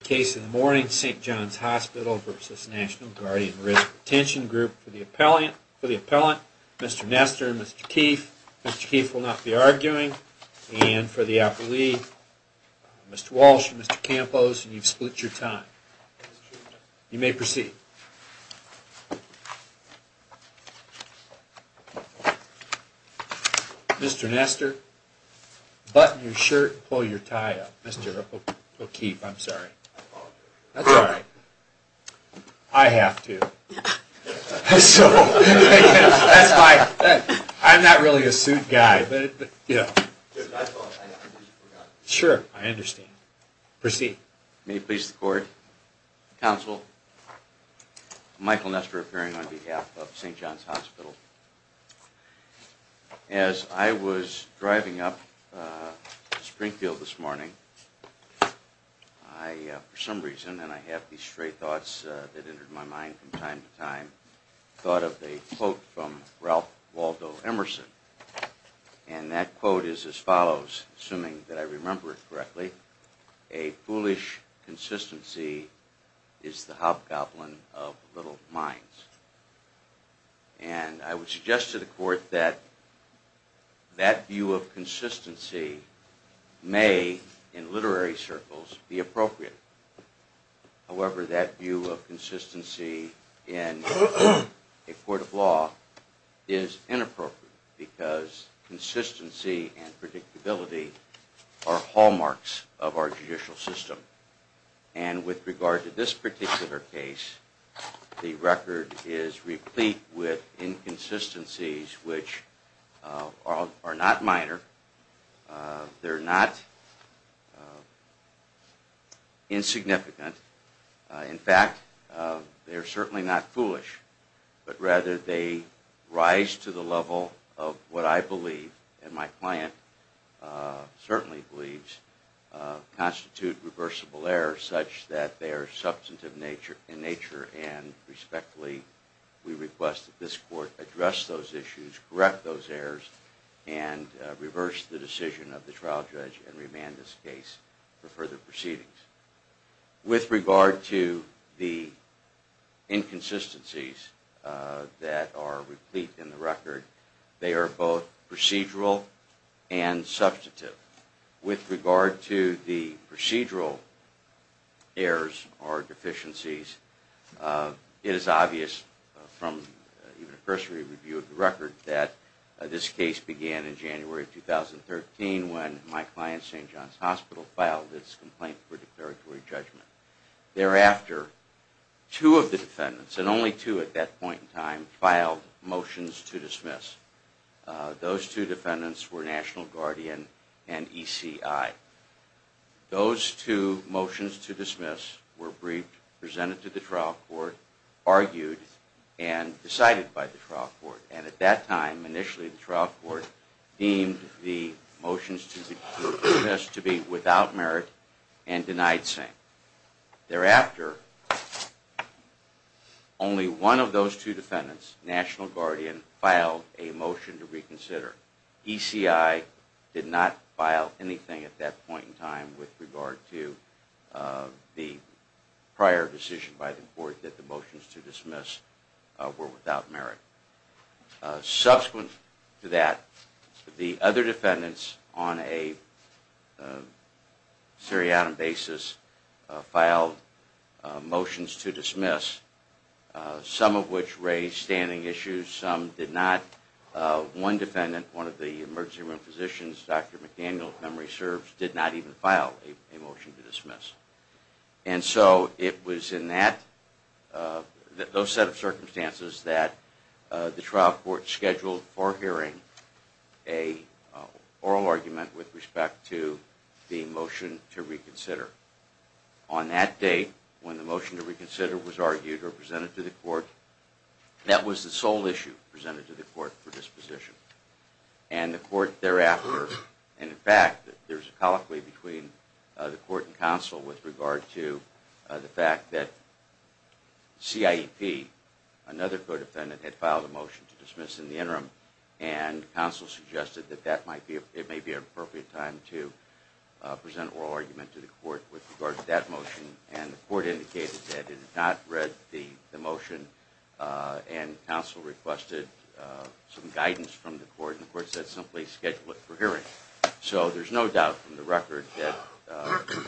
For the appellant, Mr. Nester and Mr. Keefe. Mr. Keefe will not be arguing. And for the appellee, Mr. Walsh and Mr. Campos, you've split your time. You may proceed. Mr. Nester, button your shirt and pull your tie up. Mr. O'Keefe, I'm sorry. That's all right. I have to. I'm not really a suit guy, but, you know. Sure, I understand. Proceed. May it please the Court, Counsel, Michael Nester appearing on behalf of St. John's Hospital. As I was driving up to Springfield this morning, I, for some reason, and I have these stray thoughts that entered my mind from time to time, thought of a quote from Ralph Waldo Emerson. And that quote is as follows, assuming that I remember it correctly, a foolish consistency is the hobgoblin of little minds. And I would suggest to the Court that that view of consistency may in literary circles be appropriate. However, that view of consistency in a court of law is inappropriate because consistency and predictability are hallmarks of our judicial system. And with regard to this particular case, the record is replete with inconsistencies which are not minor. They're not insignificant. In fact, they're certainly not foolish. But rather they rise to the level of what I believe, and my client certainly believes, constitute reversible errors such that they are substantive in nature. And respectfully, we request that this Court address those issues, correct those errors, and reverse the decision of the trial judge and remand this case for further proceedings. With regard to the inconsistencies that are replete in the record, they are both procedural and substantive. With regard to the procedural errors or deficiencies, it is obvious from a cursory review of the record that this case began in January of 2013 when my client, St. John's Hospital, filed its complaint for declaratory judgment. Thereafter, two of the defendants, and only two at that point in time, filed motions to dismiss. Those two defendants were National Guardian and ECI. Those two motions to dismiss were briefed, presented to the trial court, argued, and decided by the trial court. And at that time, initially, the trial court deemed the motions to dismiss to be without merit and denied saying. Thereafter, only one of those two defendants, National Guardian, filed a motion to reconsider. ECI did not file anything at that point in time with regard to the prior decision by the court that the motions to dismiss were without merit. Subsequent to that, the other defendants on a seriatim basis filed motions to dismiss some of which raised standing issues, some did not. One defendant, one of the emergency room physicians, Dr. McDaniel, if memory serves, did not even file a motion to dismiss. And so it was in that, those set of circumstances that the trial court scheduled for hearing a oral argument with respect to the motion to reconsider. On that date, when the motion to reconsider was argued or presented to the court, that was the sole issue presented to the court for disposition. And the court thereafter, and in fact, there's a colloquy between the court and counsel with regard to the fact that CIEP, another co-defendant, had filed a motion to dismiss in the interim and counsel suggested that it may be an appropriate time to present oral argument to the court with regard to that motion. And the court indicated that it had not read the motion, and counsel requested some guidance from the court, and the court said simply schedule it for hearing. So there's no doubt from the record that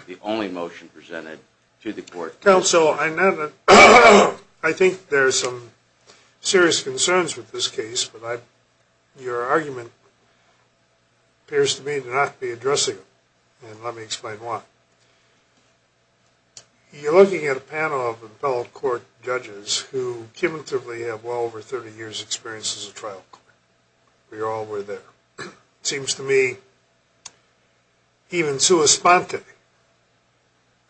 the only motion presented to the court was to dismiss. Counsel, I think there are some serious concerns with this case, but your argument appears to me to not be addressing them, and let me explain why. You're looking at a panel of appellate court judges who cumulatively have well over 30 years' experience as a trial court. We all were there. It seems to me even sua sponte, and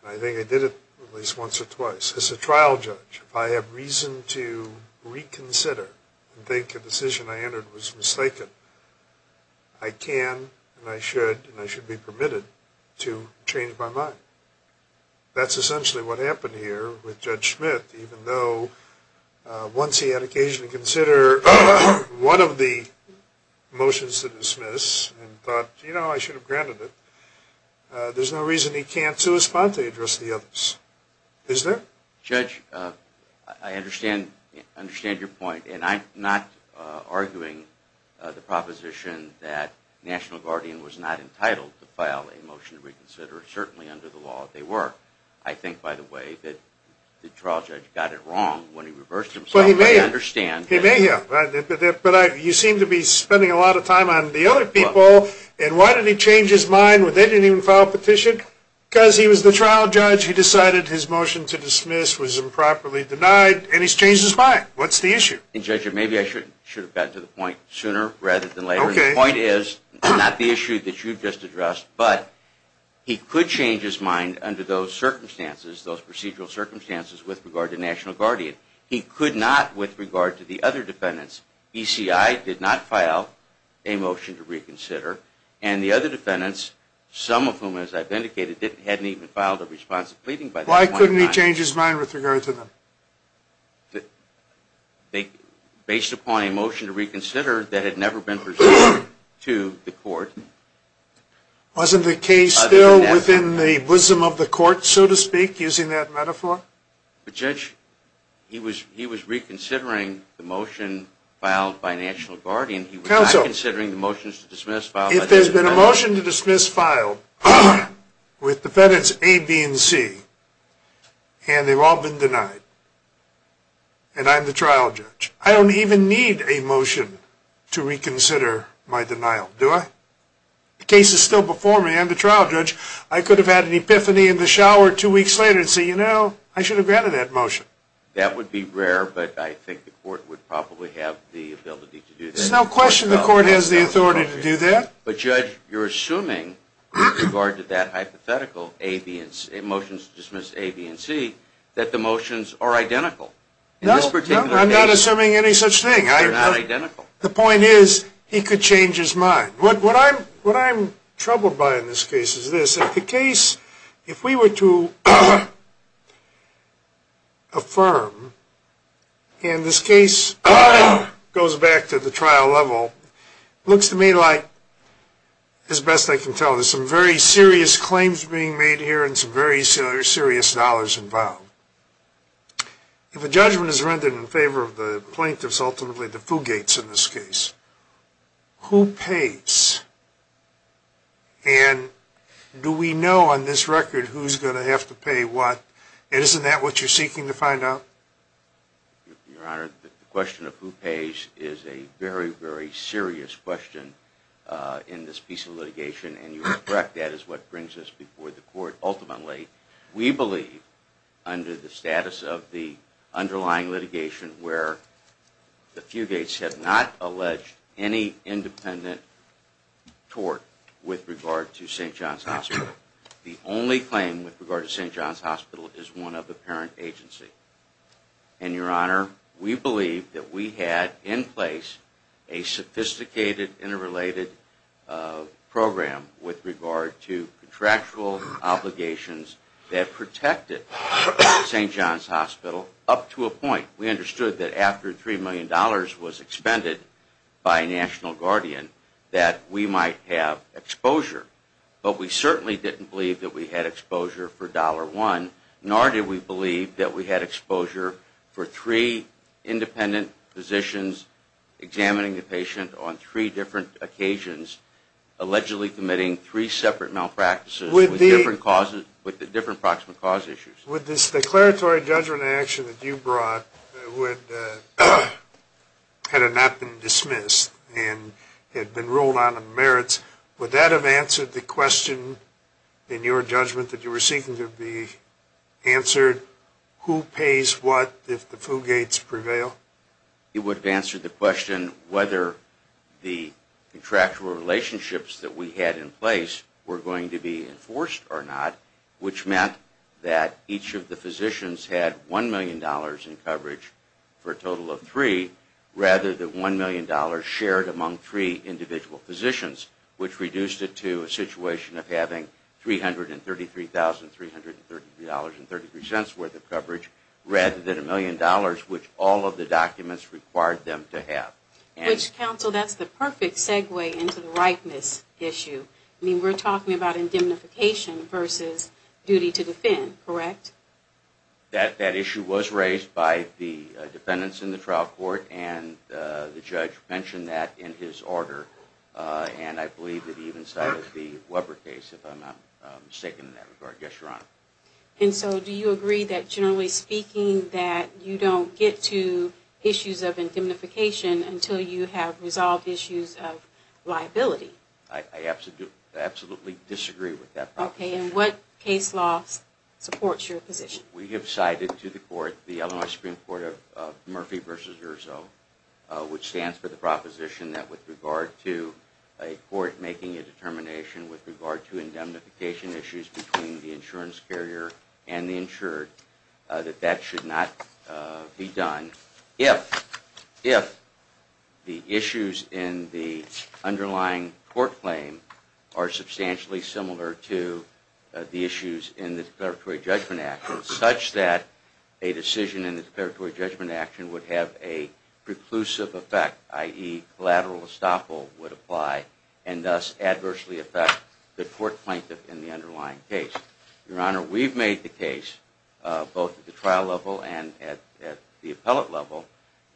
I think I did it at least once or twice, as a trial judge, if I have reason to reconsider and think a decision I entered was mistaken, I can, and I should, and I should be permitted to change my mind. That's essentially what happened here with Judge Schmitt, even though once he had occasionally consider one of the motions to dismiss and thought, you know, I should have granted it, there's no reason he can't sua sponte address the others, is there? Judge, I understand your point, and I'm not arguing the proposition that National Guardian was not entitled to file a motion to reconsider, certainly under the law they were. I think, by the way, that the trial judge got it wrong when he reversed himself, but I understand that. He may have, but you seem to be spending a lot of time on the other people, and why did he change his mind when they didn't even file a petition? Because he was the trial judge he decided his motion to dismiss was improperly denied, and he's changed his mind. What's the issue? And Judge, maybe I should have gotten to the point sooner rather than later. The point is, not the issue that you just addressed, but he could change his mind under those circumstances, those procedural circumstances with regard to National Guardian. He could not with regard to the other defendants. ECI did not file a motion to reconsider, and the other defendants, some of whom, as I've indicated, hadn't even filed a response to pleading by that point in time. Why couldn't he change his mind with regard to them? Based upon a motion to reconsider that had never been presented to the court. Wasn't the case still within the bosom of the court, so to speak, using that metaphor? But Judge, he was reconsidering the motion filed by National Guardian. He was not considering the motions to dismiss filed by National Guardian. If there's been a motion to dismiss filed with defendants A, B, and C, and they've all been denied, and I'm the trial judge, I don't even need a motion to reconsider my denial, do I? The case is still before me. I'm the trial judge. I could have had an epiphany in the shower two weeks later and say, you know, I should have granted that motion. That would be rare, but I think the court would probably have the ability to do that. There's no question the court has the authority to do that. But Judge, you're assuming, with regard to that hypothetical motions to dismiss A, B, and C, that the motions are identical in this particular case. No, I'm not assuming any such thing. The point is, he could change his mind. What I'm troubled by in this case is this. If the case, if we were to affirm, and this case goes back to the trial trial trial trial level, looks to me like, as best I can tell, there's some very serious claims being made here and some very serious dollars involved. If a judgment is rendered in favor of the plaintiffs, ultimately the Fugates in this case, who pays? And do we know on this record who's going to have to pay what? And isn't that what you're seeking to find out? Your Honor, the question of who pays is a very, very serious question in this piece of litigation, and you are correct. That is what brings us before the court ultimately. We believe, under the status of the underlying litigation, where the Fugates have not alleged any independent tort with regard to St. John's Hospital. The only claim with regard to St. John's Hospital is one of the parent agency. And Your Honor, we believe that we had in place a sophisticated interrelated program with regard to contractual obligations that protected St. John's Hospital up to a point. We understood that after $3 million was expended by National Guardian, that we might have exposure. But we certainly didn't believe that we had exposure for $1, nor did we believe that we had exposure for three independent physicians examining a patient on three different occasions allegedly committing three separate malpractices with different proximate cause issues. Would this declaratory judgment action that you brought, had it not been dismissed and had been ruled on the merits, would that have answered the question in your judgment that you were seeking to be answered, who pays what if the Fugates prevail? It would have answered the question whether the contractual relationships that we had in place were going to be enforced or not, which meant that each of the physicians had $1 million in coverage for a total of three, rather than $1 million shared among three individual physicians, which reduced it to a situation of having $333,333.33 worth of coverage, rather than $1 million which all of the documents required them to have. Which, counsel, that's the perfect segue into the ripeness issue. I mean, we're talking about indemnification versus duty to defend, correct? That issue was raised by the defendants in the trial court, and the judge mentioned that in his order, and I believe that he even cited the Weber case, if I'm not mistaken in that regard. Yes, Your Honor. And so do you agree that, generally speaking, that you don't get to issues of indemnification until you have resolved issues of liability? I absolutely disagree with that proposition. Okay, and what case law supports your position? We have cited to the court, the Illinois Supreme Court of Murphy v. Urzo, which stands for the proposition that with regard to a court making a determination with regard to indemnification issues between the insurance carrier and the insured, that that should not be done, if the issues in the underlying court claim are substantially similar to the issues in the declaratory judgment action, such that a decision in the declaratory judgment action would have a preclusive effect, i.e., collateral estoppel would apply, and thus adversely affect the court plaintiff in the underlying case. Your Honor, we've made the case, both at the trial level and at the appellate level,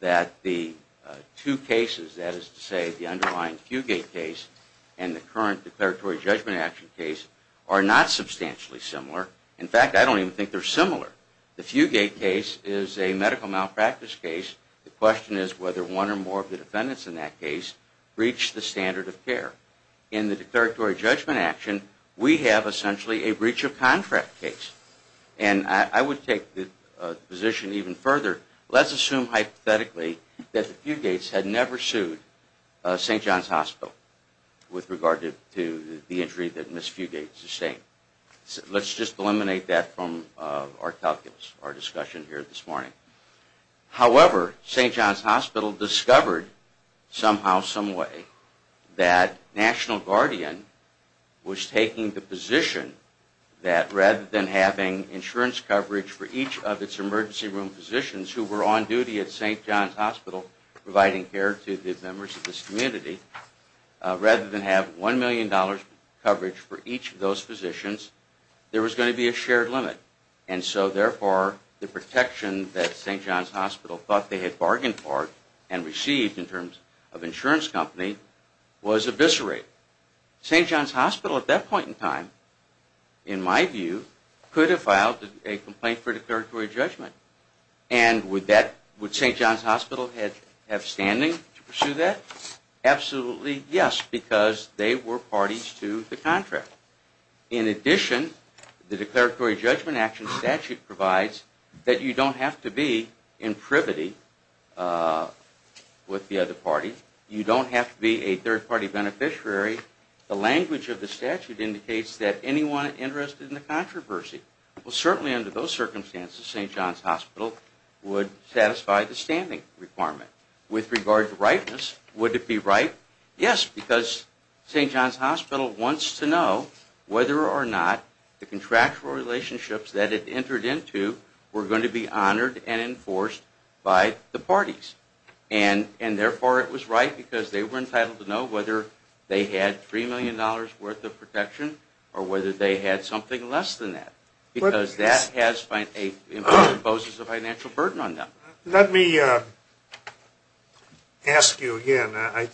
that the two cases, that is to say, the underlying Fugate case and the current declaratory judgment action case, are not substantially similar. In fact, I don't even think they're similar. The Fugate case is a medical malpractice case. The question is whether one or more of the defendants in that case breached the standard of care. In the declaratory judgment action, we have essentially a breach of contract case. And I would take the position even further, let's assume hypothetically that the Fugates had never sued St. John's Hospital with regard to the injury that Ms. Fugate sustained. Let's just eliminate that from our calculus, our discussion here this morning. However, St. John's Hospital discovered somehow, someway, that National Guardian was taking the position that rather than having insurance coverage for each of its emergency room physicians who were on duty at St. John's Hospital providing care to the members of this community, rather than have $1 million coverage for each of those physicians, there was going to be a shared limit. And so therefore, the protection that St. John's Hospital thought they had bargained for and received in terms of insurance company was eviscerated. St. John's Hospital at that point in time, in my view, could have filed a complaint for declaratory judgment. And would St. John's Hospital have standing to pursue that? Absolutely, yes, because they were parties to the contract. In addition, the declaratory judgment action statute provides that you don't have to be in privity with the other party. You don't have to be a third-party beneficiary. The language of the statute indicates that anyone interested in the controversy will certainly under those circumstances, St. John's Hospital would satisfy the standing requirement. With regard to ripeness, would it be right? Yes, because St. John's Hospital wants to know whether or not the contractual relationships that it entered into were going to be honored and enforced by the parties. And therefore, it was right because they were entitled to know whether they had $3 million worth of protection or whether they had something less than that, because that imposes a financial burden on them. Let me ask you again. I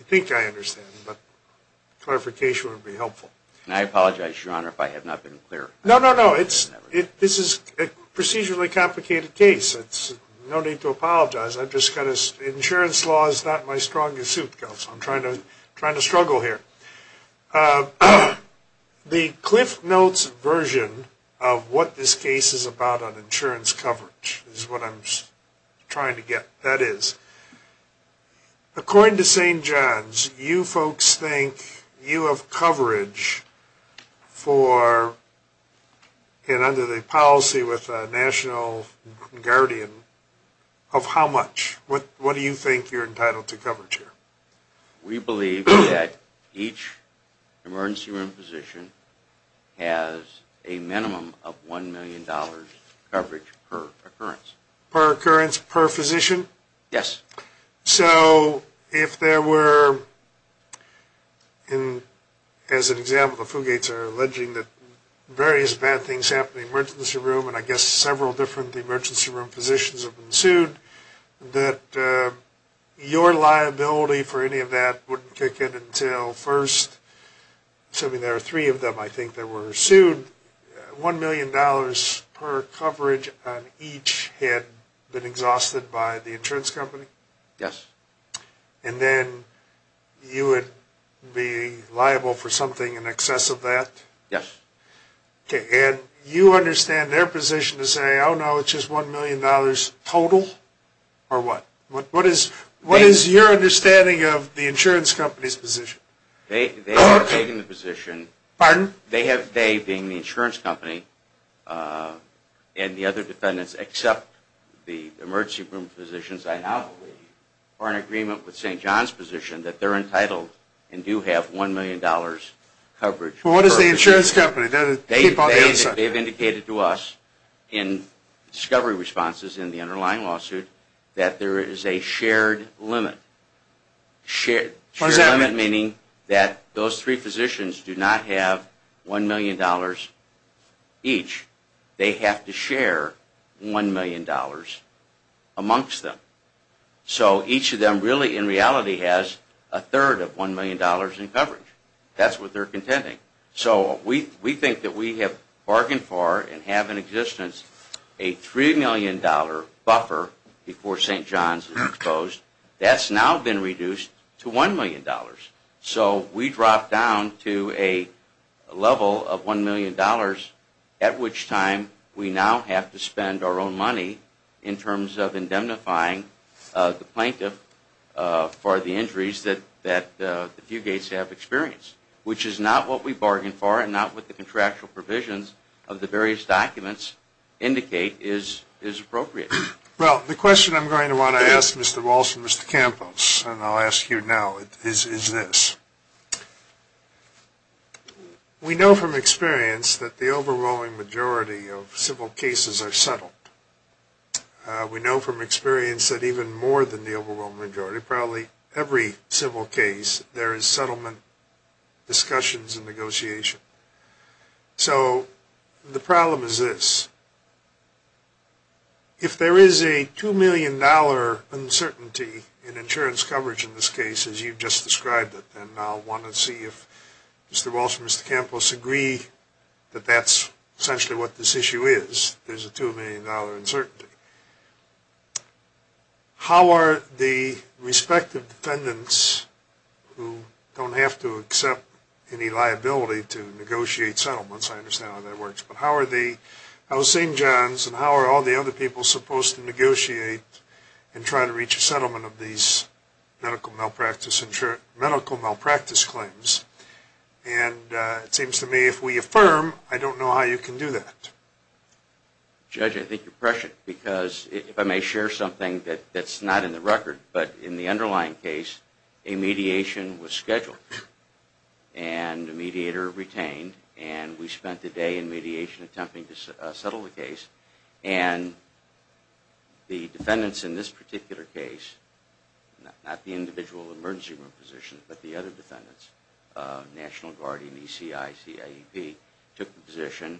think I understand, but clarification would be helpful. And I apologize, Your Honor, if I have not been clear. No, no, no, this is a procedurally complicated case. There's no need to apologize. Insurance law is not my strongest suit, Counselor. I'm trying to struggle here. The CliffsNotes version of what this case is about on insurance coverage is what I'm trying to get. That is, according to St. John's, you folks think you have coverage for, and under the policy with the National Guardian, of how much? What do you think you're entitled to coverage here? We believe that each emergency room physician has a minimum of $1 million coverage per occurrence. Per occurrence per physician? Yes. So, if there were, as an example, the Fugates are alleging that various bad things happened in the emergency room, and I guess several different emergency room physicians have been for any of that, wouldn't kick it until first, assuming there are three of them, I think they were sued, $1 million per coverage on each had been exhausted by the insurance company? Yes. And then you would be liable for something in excess of that? Yes. Okay. And you understand their position to say, oh no, it's just $1 million total? Or what? What is your understanding of the insurance company's position? They have taken the position, they being the insurance company, and the other defendants except the emergency room physicians, I now believe, are in agreement with St. John's position that they're entitled and do have $1 million coverage per occurrence. What is the insurance company? They've indicated to us in discovery responses in the underlying lawsuit, that there is a shared limit, meaning that those three physicians do not have $1 million each. They have to share $1 million amongst them. So each of them really, in reality, has a third of $1 million in coverage. That's what they're contending. So we think that we have bargained for and have in existence a $3 million buffer before St. John's was exposed. That's now been reduced to $1 million. So we drop down to a level of $1 million, at which time we now have to spend our own money in terms of indemnifying the plaintiff for the injuries that the Fugates have experienced, which is not what we bargained for and not what the contractual provisions of the various documents indicate is appropriate. Well, the question I'm going to want to ask Mr. Walsh and Mr. Campos, and I'll ask you now, is this. We know from experience that the overwhelming majority of civil cases are settled. We know from experience that even more than the overwhelming majority, probably every civil case, there is settlement discussions and negotiation. So the problem is this. If there is a $2 million uncertainty in insurance coverage in this case, as you've just described it, and I'll want to see if Mr. Walsh and Mr. Campos agree that that's essentially what this issue is, there's a $2 million uncertainty. How are the respective defendants, who don't have to accept any liability to negotiate settlements, I understand how that works, but how are the Al-Sinjans and how are all the other people supposed to negotiate and try to reach a settlement of these medical malpractice claims? And it seems to me if we affirm, I don't know how you can do that. Judge, I think you're prescient because if I may share something that's not in the record, but in the underlying case, a mediation was scheduled and a mediator retained and we spent a day in mediation attempting to settle the case and the defendants in this particular case, not the individual emergency room positions, but the other defendants, National Guard and ECI, CIEP, took the position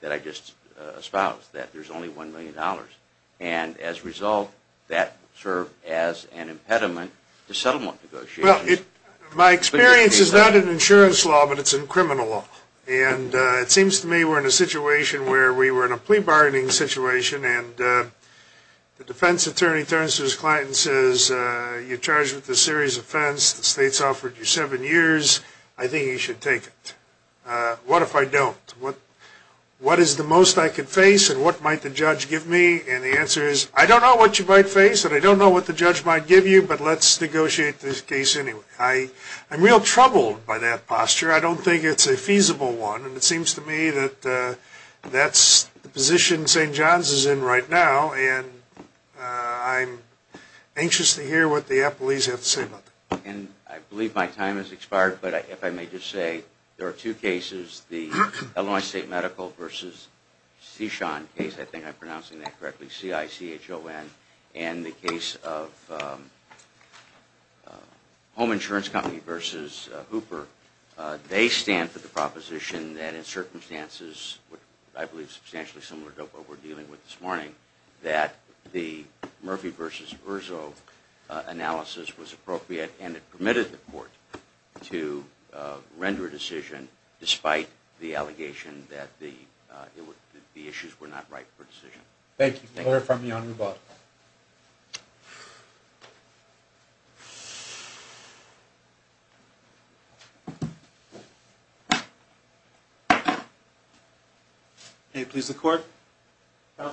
that I just espoused, that there's only $1 million. And as a result, that served as an impediment to settlement negotiations. My experience is not in insurance law, but it's in criminal law and it seems to me we're in a situation where we were in a plea bargaining situation and the defense attorney turns to his client and says, you're charged with a series of offense, the state's offered you seven years, I think you should take it. What if I don't? What is the most I can face and what might the judge give me? And the answer is, I don't know what you might face and I don't know what the judge might give you, but let's negotiate this case anyway. I'm real troubled by that posture. I don't think it's a feasible one and it seems to me that that's the position St. John's is in right now and I'm anxious to hear what the appellees have to say about that. I believe my time has expired, but if I may just say, there are two cases, the Illinois State Medical v. Sechon case, I think I'm pronouncing that correctly, C-I-C-H-O-N, and the case of Home Insurance Company v. Hooper. They stand for the proposition that in circumstances, I believe substantially similar to what we're appropriate and it permitted the court to render a decision despite the allegation that the issues were not right for decision. Thank you. We'll hear from you on rebuttal. May it please the court. My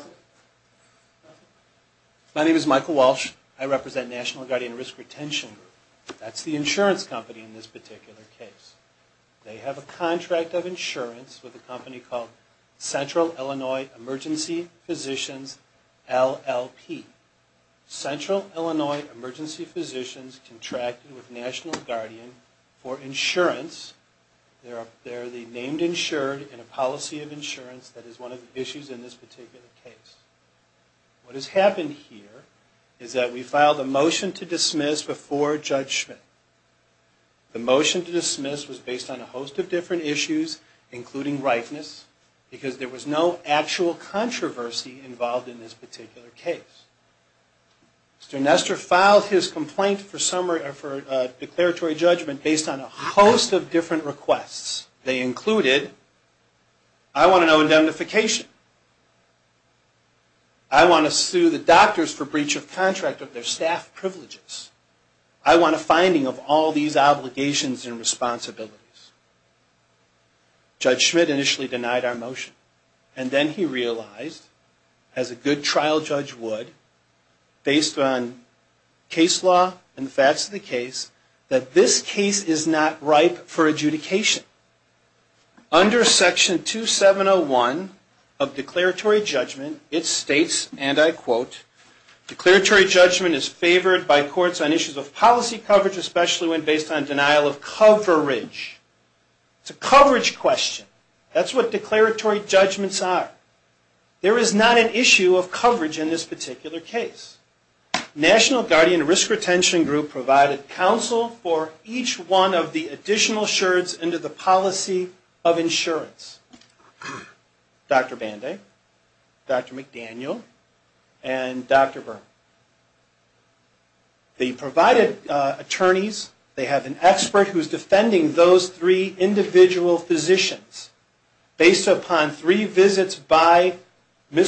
name is Michael Walsh. I represent National Guardian Risk Retention Group. That's the insurance company in this particular case. They have a contract of insurance with a company called Central Illinois Emergency Physicians LLP. Central Illinois Emergency Physicians contracted with National Guardian for insurance. They're the named insured in a policy of insurance that is one of the issues in this particular case. What has happened here is that we filed a motion to dismiss before Judge Schmidt. The motion to dismiss was based on a host of different issues, including rightness, because there was no actual controversy involved in this particular case. Mr. Nestor filed his complaint for declaratory judgment based on a host of different requests. They included, I want to know indemnification. I want to sue the doctors for breach of contract of their staff privileges. I want a finding of all these obligations and responsibilities. Judge Schmidt initially denied our motion. And then he realized, as a good trial judge would, based on case law and the facts of the case, that this case is not ripe for adjudication. Under Section 2701 of declaratory judgment, it states, and I quote, declaratory judgment is favored by courts on issues of policy coverage, especially when based on denial of coverage. It's a coverage question. That's what declaratory judgments are. There is not an issue of coverage in this particular case. National Guardian Risk Retention Group provided counsel for each one of the additional sherds under the policy of insurance, Dr. Banday, Dr. McDaniel, and Dr. Byrne. They provided attorneys. They have an expert who is defending those three individual physicians based upon three of the additional sherds. In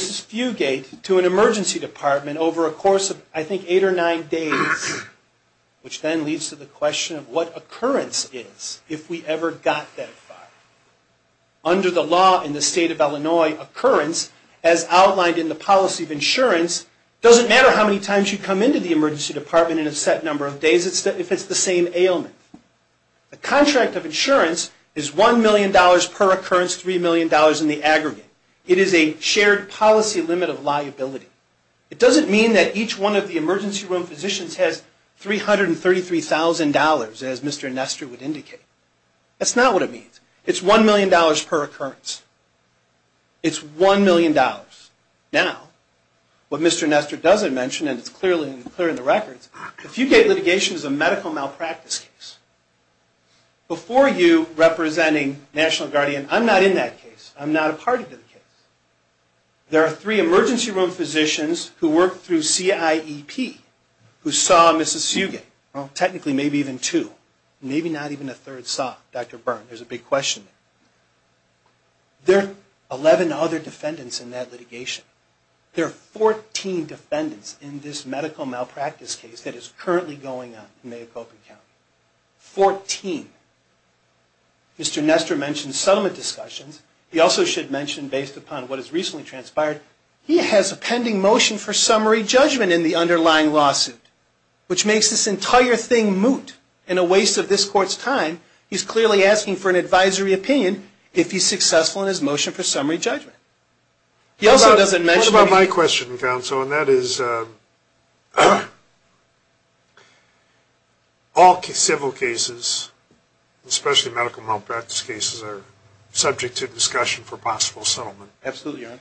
the course of, I think, eight or nine days, which then leads to the question of what occurrence is if we ever got that file. Under the law in the state of Illinois, occurrence, as outlined in the policy of insurance, doesn't matter how many times you come into the emergency department in a set number of days if it's the same ailment. The contract of insurance is $1 million per occurrence, $3 million in the aggregate. It is a shared policy limit of liability. It doesn't mean that each one of the emergency room physicians has $333,000, as Mr. Nestor would indicate. That's not what it means. It's $1 million per occurrence. It's $1 million. Now, what Mr. Nestor doesn't mention, and it's clearly clear in the records, if you get litigation as a medical malpractice case, before you representing National Guardian, I'm not in that case. I'm not a party to the case. There are three emergency room physicians who worked through CIEP, who saw a Mississugan, technically maybe even two, maybe not even a third saw Dr. Byrne, there's a big question there. There are 11 other defendants in that litigation. There are 14 defendants in this medical malpractice case that is currently going on in Mayacobin County. Fourteen. Mr. Nestor mentioned settlement discussions. He also should mention, based upon what has recently transpired, he has a pending motion for summary judgment in the underlying lawsuit, which makes this entire thing moot and a waste of this court's time. He's clearly asking for an advisory opinion if he's successful in his motion for summary judgment. He also doesn't mention- What about my question, counsel, and that is all civil cases, especially medical malpractice cases, are subject to discussion for possible settlement. Absolutely, Your Honor.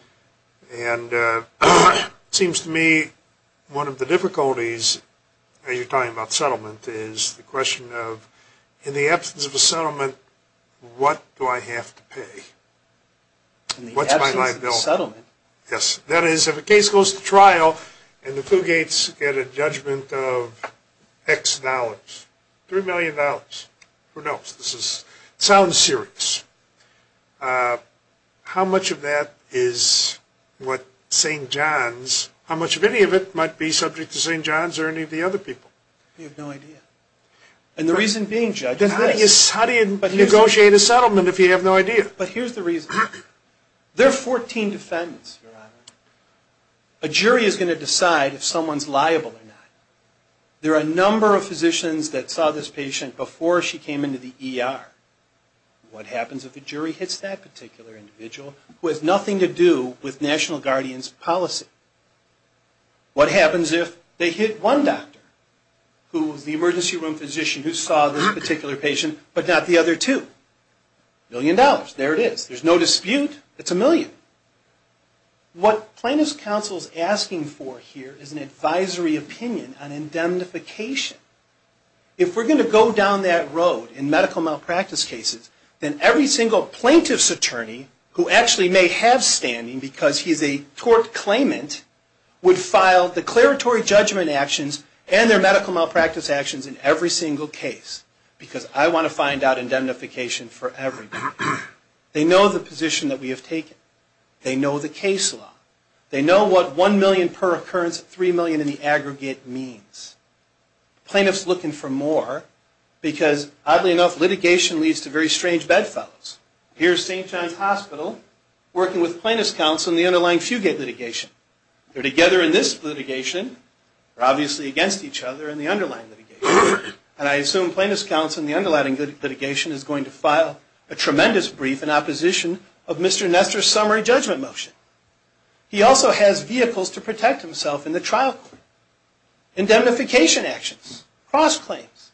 And it seems to me one of the difficulties, as you're talking about settlement, is the question of, in the absence of a settlement, what do I have to pay? What's my liability? In the absence of a settlement? Yes. That is, if a case goes to trial and the Fugates get a judgment of X dollars, $3 million, who knows? This sounds serious. How much of that is what St. John's, how much of any of it might be subject to St. John's or any of the other people? You have no idea. And the reason being, Judge- Then how do you negotiate a settlement if you have no idea? But here's the reason. There are 14 defendants, Your Honor. A jury is going to decide if someone's liable or not. There are a number of physicians that saw this patient before she came into the ER. What happens if a jury hits that particular individual, who has nothing to do with National Guardian's policy? What happens if they hit one doctor, the emergency room physician who saw this particular patient, but not the other two? A million dollars. There it is. There's no dispute. It's a million. Second, what plaintiff's counsel is asking for here is an advisory opinion on indemnification. If we're going to go down that road in medical malpractice cases, then every single plaintiff's attorney, who actually may have standing because he's a court claimant, would file declaratory judgment actions and their medical malpractice actions in every single case, because I want to find out indemnification for everybody. They know the position that we have taken. They know the case law. They know what one million per occurrence, three million in the aggregate, means. Plaintiff's looking for more because, oddly enough, litigation leads to very strange bedfellows. Here's St. John's Hospital working with plaintiff's counsel in the underlying Fugate litigation. They're together in this litigation, they're obviously against each other in the underlying litigation, and I assume plaintiff's counsel in the underlying litigation is going to file a tremendous brief in opposition of Mr. Nestor's summary judgment motion. He also has vehicles to protect himself in the trial court. Indemnification actions, cross-claims,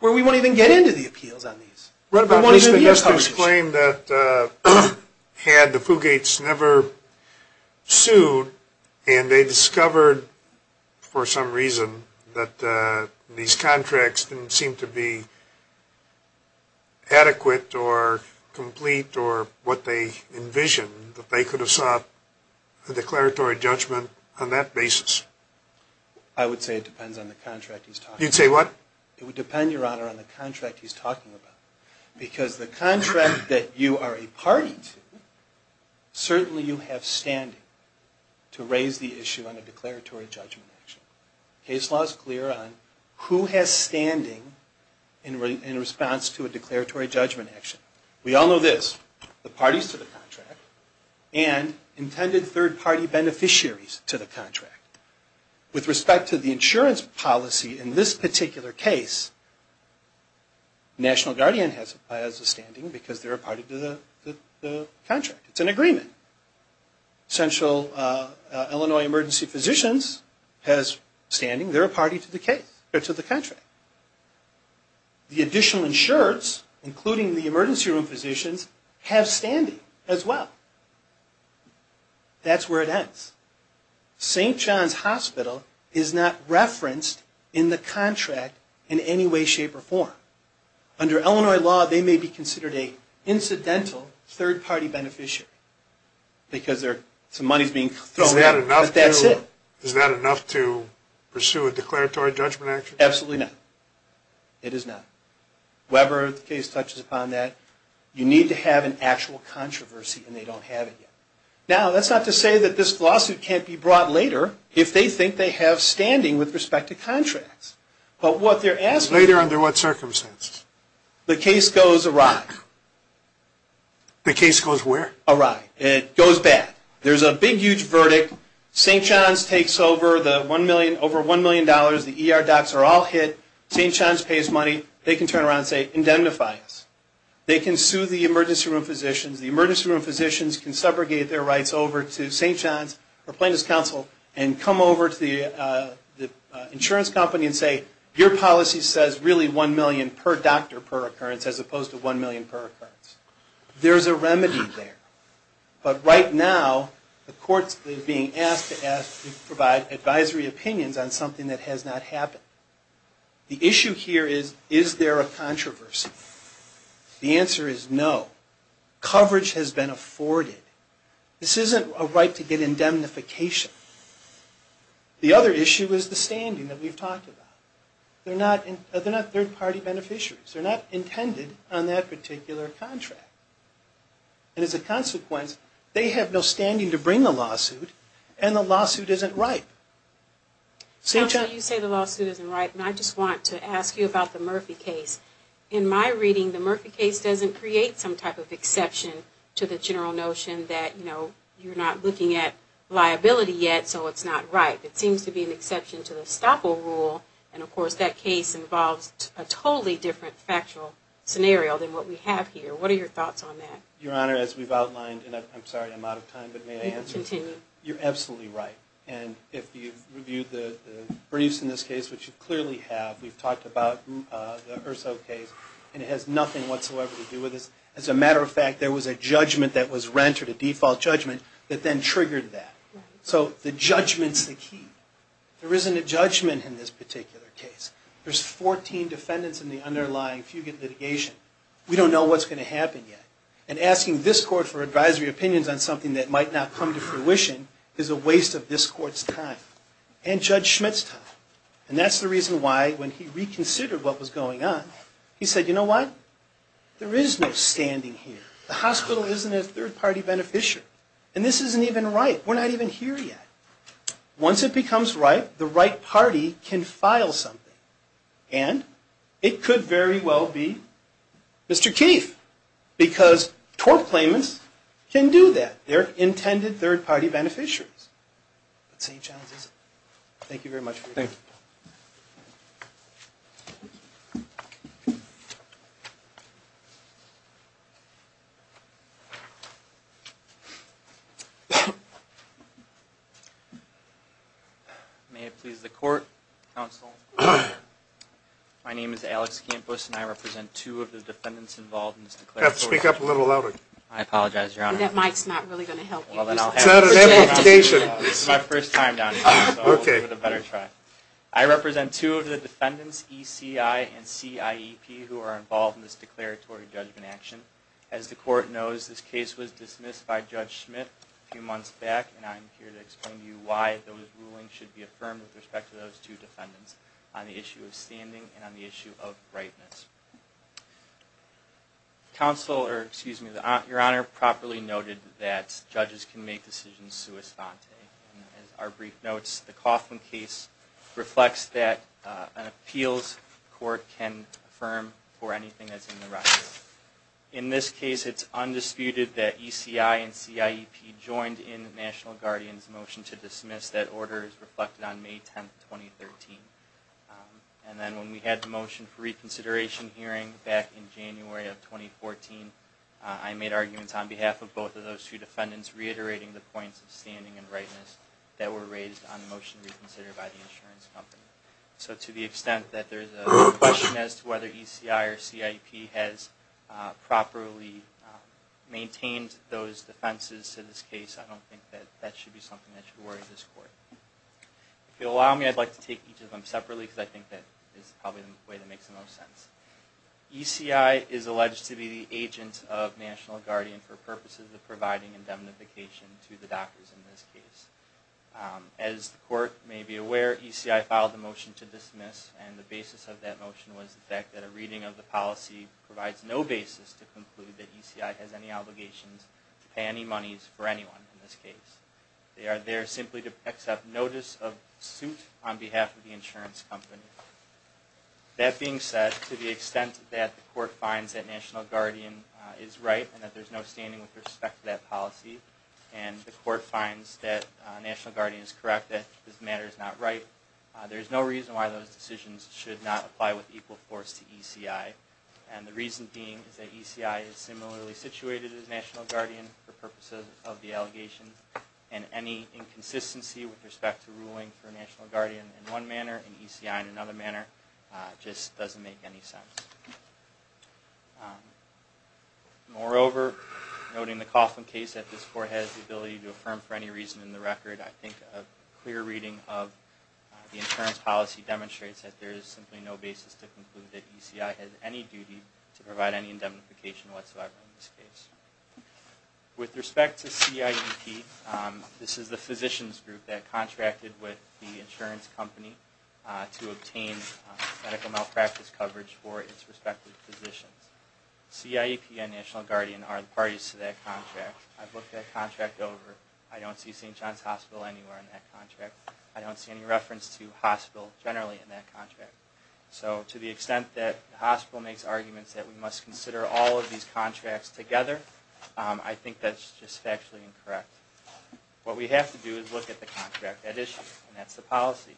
where we won't even get into the appeals on these. We won't even get into the accomplishments. What about Mr. Nestor's claim that had the Fugates never sued, and they discovered for some reason that these contracts didn't seem to be adequate or complete or what they envisioned, that they could have sought a declaratory judgment on that basis? I would say it depends on the contract he's talking about. You'd say what? It would depend, Your Honor, on the contract he's talking about. Because the contract that you are a party to, certainly you have standing to raise the case law is clear on who has standing in response to a declaratory judgment action. We all know this, the parties to the contract and intended third-party beneficiaries to the contract. With respect to the insurance policy in this particular case, National Guardian has a standing because they're a party to the contract, it's an agreement. Central Illinois Emergency Physicians has standing, they're a party to the case, to the contract. The additional insurers, including the emergency room physicians, have standing as well. That's where it ends. St. John's Hospital is not referenced in the contract in any way, shape, or form. Under Illinois law, they may be considered an incidental third-party beneficiary because some money is being thrown out, but that's it. Is that enough to pursue a declaratory judgment action? Absolutely not. It is not. Weber, the case touches upon that. You need to have an actual controversy and they don't have it yet. Now, that's not to say that this lawsuit can't be brought later if they think they have standing with respect to contracts. Later under what circumstances? The case goes awry. The case goes where? Awry. It goes bad. There's a big, huge verdict. St. John's takes over the $1 million, the ER docs are all hit, St. John's pays money, they can turn around and say, indemnify us. They can sue the emergency room physicians, the emergency room physicians can subrogate their rights over to St. John's or plaintiff's counsel and come over to the insurance company and say, your policy says really $1 million per doctor per occurrence as opposed to $1 million per occurrence. There's a remedy there. But right now, the courts are being asked to provide advisory opinions on something that has not happened. The issue here is, is there a controversy? The answer is no. Coverage has been afforded. This isn't a right to get indemnification. The other issue is the standing that we've talked about. They're not third-party beneficiaries. They're not intended on that particular contract. And as a consequence, they have no standing to bring the lawsuit, and the lawsuit isn't ripe. Counsel, you say the lawsuit isn't ripe, and I just want to ask you about the Murphy case. In my reading, the Murphy case doesn't create some type of exception to the general notion that, you know, you're not looking at liability yet, so it's not ripe. It seems to be an exception to the Staple rule, and, of course, that case involves a totally different factual scenario than what we have here. What are your thoughts on that? Your Honor, as we've outlined, and I'm sorry, I'm out of time, but may I answer? Continue. You're absolutely right. And if you've reviewed the briefs in this case, which you clearly have, we've talked about the Urso case, and it has nothing whatsoever to do with this. As a matter of fact, there was a judgment that was rendered, a default judgment, that then triggered that. So the judgment's the key. There isn't a judgment in this particular case. There's 14 defendants in the underlying Fugit litigation. We don't know what's going to happen yet. And asking this Court for advisory opinions on something that might not come to fruition is a waste of this Court's time and Judge Schmidt's time. And that's the reason why, when he reconsidered what was going on, he said, you know what? There is no standing here. The hospital isn't a third-party beneficiary. And this isn't even ripe. We're not even here yet. Once it becomes ripe, the right party can file something. And it could very well be Mr. Keefe, because tort claimants can do that. They're intended third-party beneficiaries. But St. John's isn't. Thank you very much for your time. Thank you. Thank you. May it please the Court, counsel. My name is Alex Campos, and I represent two of the defendants involved in this declared tort act. You have to speak up a little louder. I apologize, Your Honor. That mic's not really going to help you. Well, then I'll have to speak up. It's not an amplification. It's my first time down here, so I'll give it a better try. I represent two of the defendants, ECI and CIEP, who are involved in this declaratory judgment action. As the Court knows, this case was dismissed by Judge Schmidt a few months back, and I'm here to explain to you why those rulings should be affirmed with respect to those two defendants on the issue of standing and on the issue of ripeness. Counsel, or excuse me, Your Honor, properly noted that judges can make decisions sua sante. As our brief notes, the Coughlin case reflects that an appeals court can affirm for anything that's in the record. In this case, it's undisputed that ECI and CIEP joined in the National Guardian's motion to dismiss. That order is reflected on May 10, 2013. And then when we had the motion for reconsideration hearing back in January of 2014, I made arguments on behalf of both of those two defendants reiterating the points of standing and ripeness that were raised on the motion reconsidered by the insurance company. So to the extent that there's a question as to whether ECI or CIEP has properly maintained those defenses to this case, I don't think that that should be something that should worry this Court. If you'll allow me, I'd like to take each of them separately, because I think that is probably the way that makes the most sense. ECI is alleged to be the agent of National Guardian for purposes of providing indemnification to the doctors in this case. As the Court may be aware, ECI filed a motion to dismiss, and the basis of that motion was the fact that a reading of the policy provides no basis to conclude that ECI has any obligations to pay any monies for anyone in this case. They are there simply to accept notice of suit on behalf of the insurance company. That being said, to the extent that the Court finds that National Guardian is right and that there's no standing with respect to that policy, and the Court finds that National Guardian is correct that this matter is not right, there is no reason why those decisions should not apply with equal force to ECI. And the reason being is that ECI is similarly situated as National Guardian for purposes of the allegations, and any inconsistency with respect to ruling for National Guardian in one manner and ECI in another manner just doesn't make any sense. Moreover, noting the Coughlin case that this Court has the ability to affirm for any reason in the record, I think a clear reading of the insurance policy demonstrates that there is simply no basis to conclude that ECI has any duty to provide any indemnification whatsoever in this case. With respect to CIEP, this is the physician's group that contracted with the insurance company to obtain medical malpractice coverage for its respective physicians. CIEP and National Guardian are the parties to that contract. I've looked that contract over. I don't see St. John's Hospital anywhere in that contract. I don't see any reference to hospital generally in that contract. So to the extent that the hospital makes arguments that we must consider all of these contracts together, I think that's just factually incorrect. What we have to do is look at the contract at issue, and that's the policy.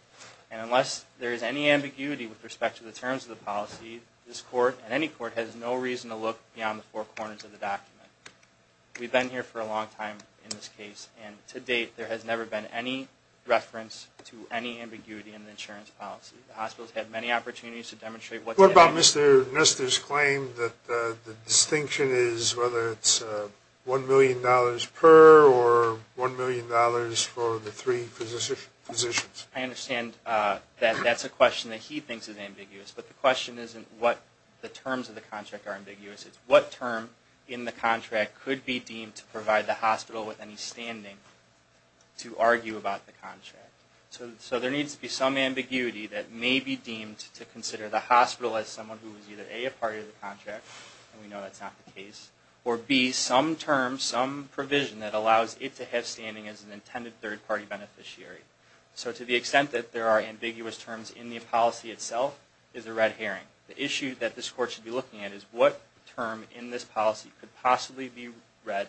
And unless there is any ambiguity with respect to the terms of the policy, this Court and any Court has no reason to look beyond the four corners of the document. We've been here for a long time in this case, and to date there has never been any reference to any ambiguity in the insurance policy. The hospitals have many opportunities to demonstrate what's at issue. What about Mr. Nestor's claim that the distinction is whether it's $1 million per or $1 million for the three physicians? I understand that that's a question that he thinks is ambiguous, but the question isn't what the terms of the contract are ambiguous. It's what term in the contract could be deemed to provide the hospital with any standing to argue about the contract. So there needs to be some ambiguity that may be deemed to consider the hospital as someone who is either A, a part of the contract, and we know that's not the case, or B, some term, some provision that allows it to have standing as an intended third-party beneficiary. So to the extent that there are ambiguous terms in the policy itself is a red herring. The issue that this Court should be looking at is what term in this policy could possibly be read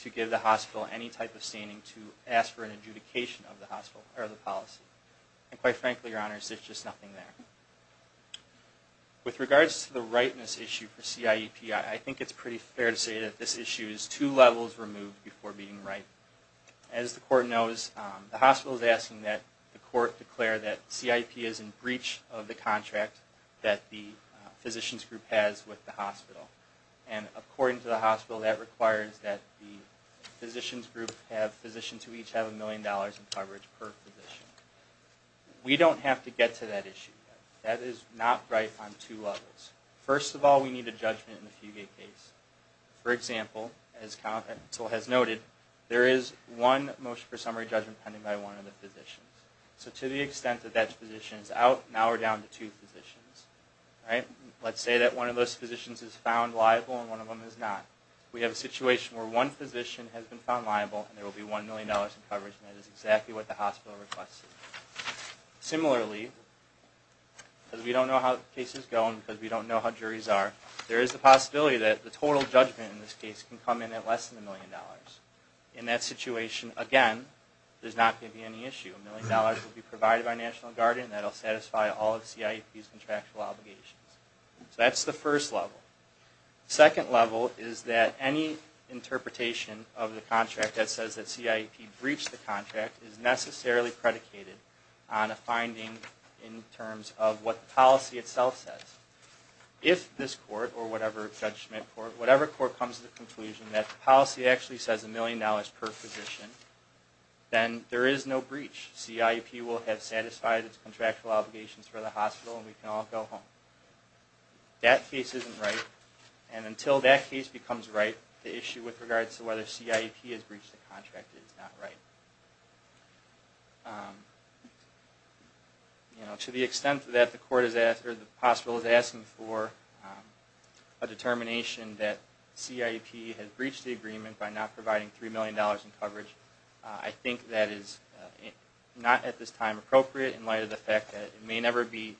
to give the hospital any type of standing to ask for an adjudication of the policy. And quite frankly, Your Honors, there's just nothing there. With regards to the ripeness issue for CIEPI, I think it's pretty fair to say that this issue is two levels removed before being right. As the Court knows, the hospital is asking that the Court declare that CIEPI is in breach of the contract that the physicians group has with the hospital. And according to the hospital, that requires that the physicians group have physicians who each have a million dollars in coverage per physician. We don't have to get to that issue yet. That is not right on two levels. First of all, we need a judgment in the Fugate case. For example, as counsel has noted, there is one motion for summary judgment pending by one of the physicians. So to the extent that that physician is out, now we're down to two physicians. Let's say that one of those physicians is found liable and one of them is not. We have a situation where one physician has been found liable and there will be one million dollars in coverage, and that is exactly what the hospital requests. Similarly, because we don't know how the case is going, because we don't know how juries are, there is a possibility that the total judgment in this case can come in at less than a million dollars. In that situation, again, there's not going to be any issue. A million dollars will be provided by National Guardian. That will satisfy all of CIEP's contractual obligations. So that's the first level. The second level is that any interpretation of the contract that says that CIEP breached the contract is necessarily predicated on a finding in terms of what the policy itself says. If this court, or whatever judgment court, whatever court comes to the conclusion that the policy actually says a million dollars per physician, then there is no breach. CIEP will have satisfied its contractual obligations for the hospital and we can all go home. That case isn't right, and until that case becomes right, the issue with regards to whether CIEP has breached the contract is not right. To the extent that the hospital is asking for a determination that CIEP has breached the agreement by not providing $3 million in coverage, I think that is not at this time appropriate in light of the fact that it may never be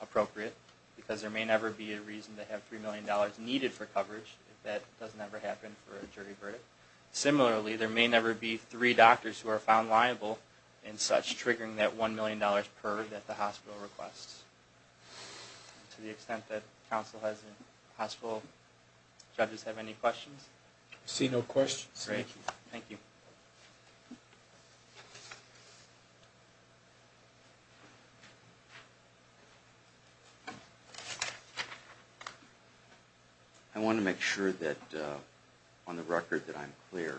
appropriate because there may never be a reason to have $3 million needed for coverage if that doesn't ever happen for a jury verdict. Similarly, there may never be three doctors who are found liable, and such triggering that $1 million per that the hospital requests. To the extent that counsel has a hospital, judges have any questions? I see no questions. Thank you. I want to make sure that on the record that I'm clear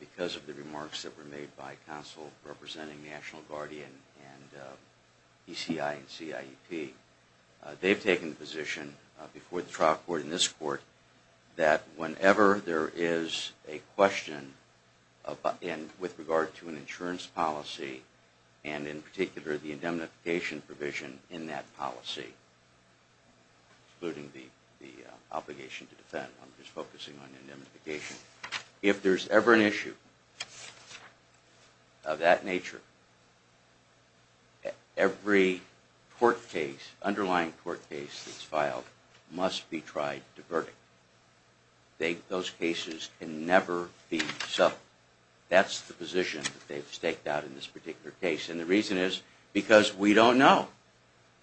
because of the remarks that were made by counsel representing National Guardian and ECI and CIEP. They've taken the position before the trial court and this court that whenever there is a question with regard to an insurance policy and in particular the indemnification provision in that policy, including the obligation to defend, I'm just focusing on indemnification. If there's ever an issue of that nature, every underlying court case that's filed must be tried to verdict. Those cases can never be settled. That's the position that they've staked out in this particular case. And the reason is because we don't know.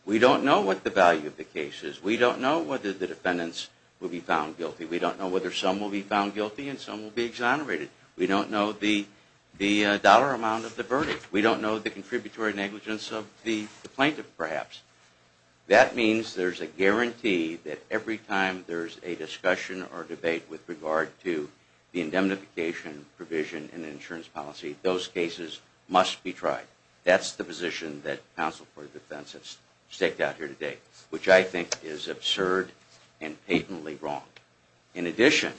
We don't know what the value of the case is. We don't know whether the defendants will be found guilty. We don't know whether some will be found guilty and some will be exonerated. We don't know the dollar amount of the verdict. We don't know the contributory negligence of the plaintiff perhaps. That means there's a guarantee that every time there's a discussion or debate with regard to the indemnification provision in an insurance policy, those cases must be tried. That's the position that counsel for defense has staked out here today, which I think is absurd and patently wrong. In addition,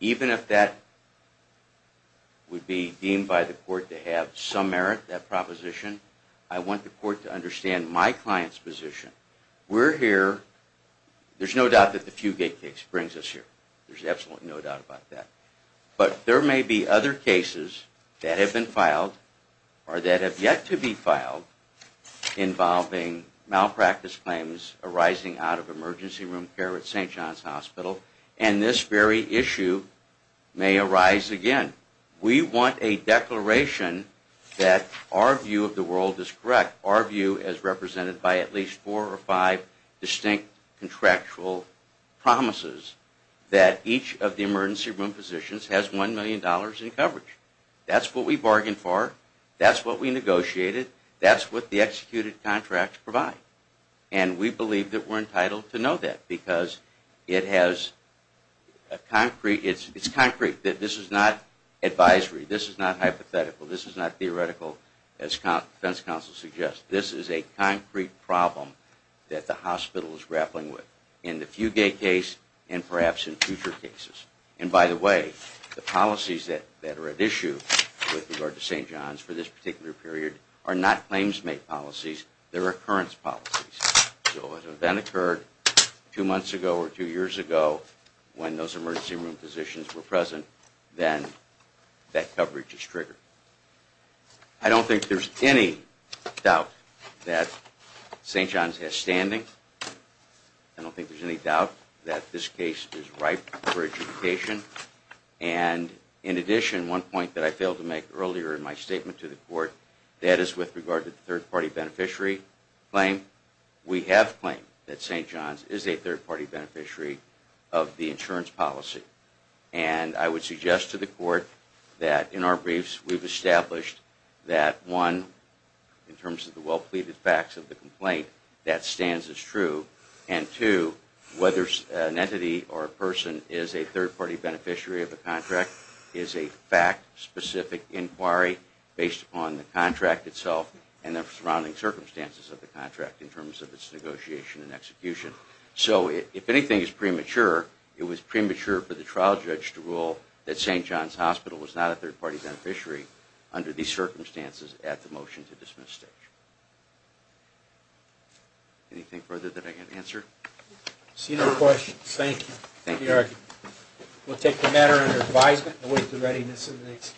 even if that would be deemed by the court to have some merit, that proposition, I want the court to understand my client's position. We're here. There's no doubt that the Fugate case brings us here. There's absolutely no doubt about that. But there may be other cases that have been filed or that have yet to be filed involving malpractice claims arising out of emergency room care at St. John's Hospital, and this very issue may arise again. We want a declaration that our view of the world is correct, our view as represented by at least four or five distinct contractual promises that each of the emergency room physicians has $1 million in coverage. That's what we bargained for. That's what we negotiated. That's what the executed contracts provide. And we believe that we're entitled to know that because it's concrete that this is not advisory. This is not hypothetical. This is not theoretical, as defense counsel suggests. This is a concrete problem that the hospital is grappling with in the Fugate case and perhaps in future cases. And by the way, the policies that are at issue with regard to St. John's for this particular period are not claims-made policies. They're occurrence policies. So if an event occurred two months ago or two years ago when those emergency room physicians were present, then that coverage is triggered. I don't think there's any doubt that St. John's has standing. I don't think there's any doubt that this case is ripe for adjudication. And in addition, one point that I failed to make earlier in my statement to the court, that is with regard to the third-party beneficiary claim, we have claimed that St. John's is a third-party beneficiary of the insurance policy. And I would suggest to the court that in our briefs we've established that one, in terms of the well-pleaded facts of the complaint, that stands as true. And two, whether an entity or a person is a third-party beneficiary of the contract is a fact-specific inquiry based upon the contract itself and the surrounding circumstances of the contract in terms of its negotiation and execution. So if anything is premature, it was premature for the trial judge to rule that St. John's Hospital was not a third-party beneficiary under these circumstances at the motion-to-dismiss stage. Anything further that I can answer? See no questions. Thank you. Thank you. We'll take the matter under advisement and await the readiness of the next case.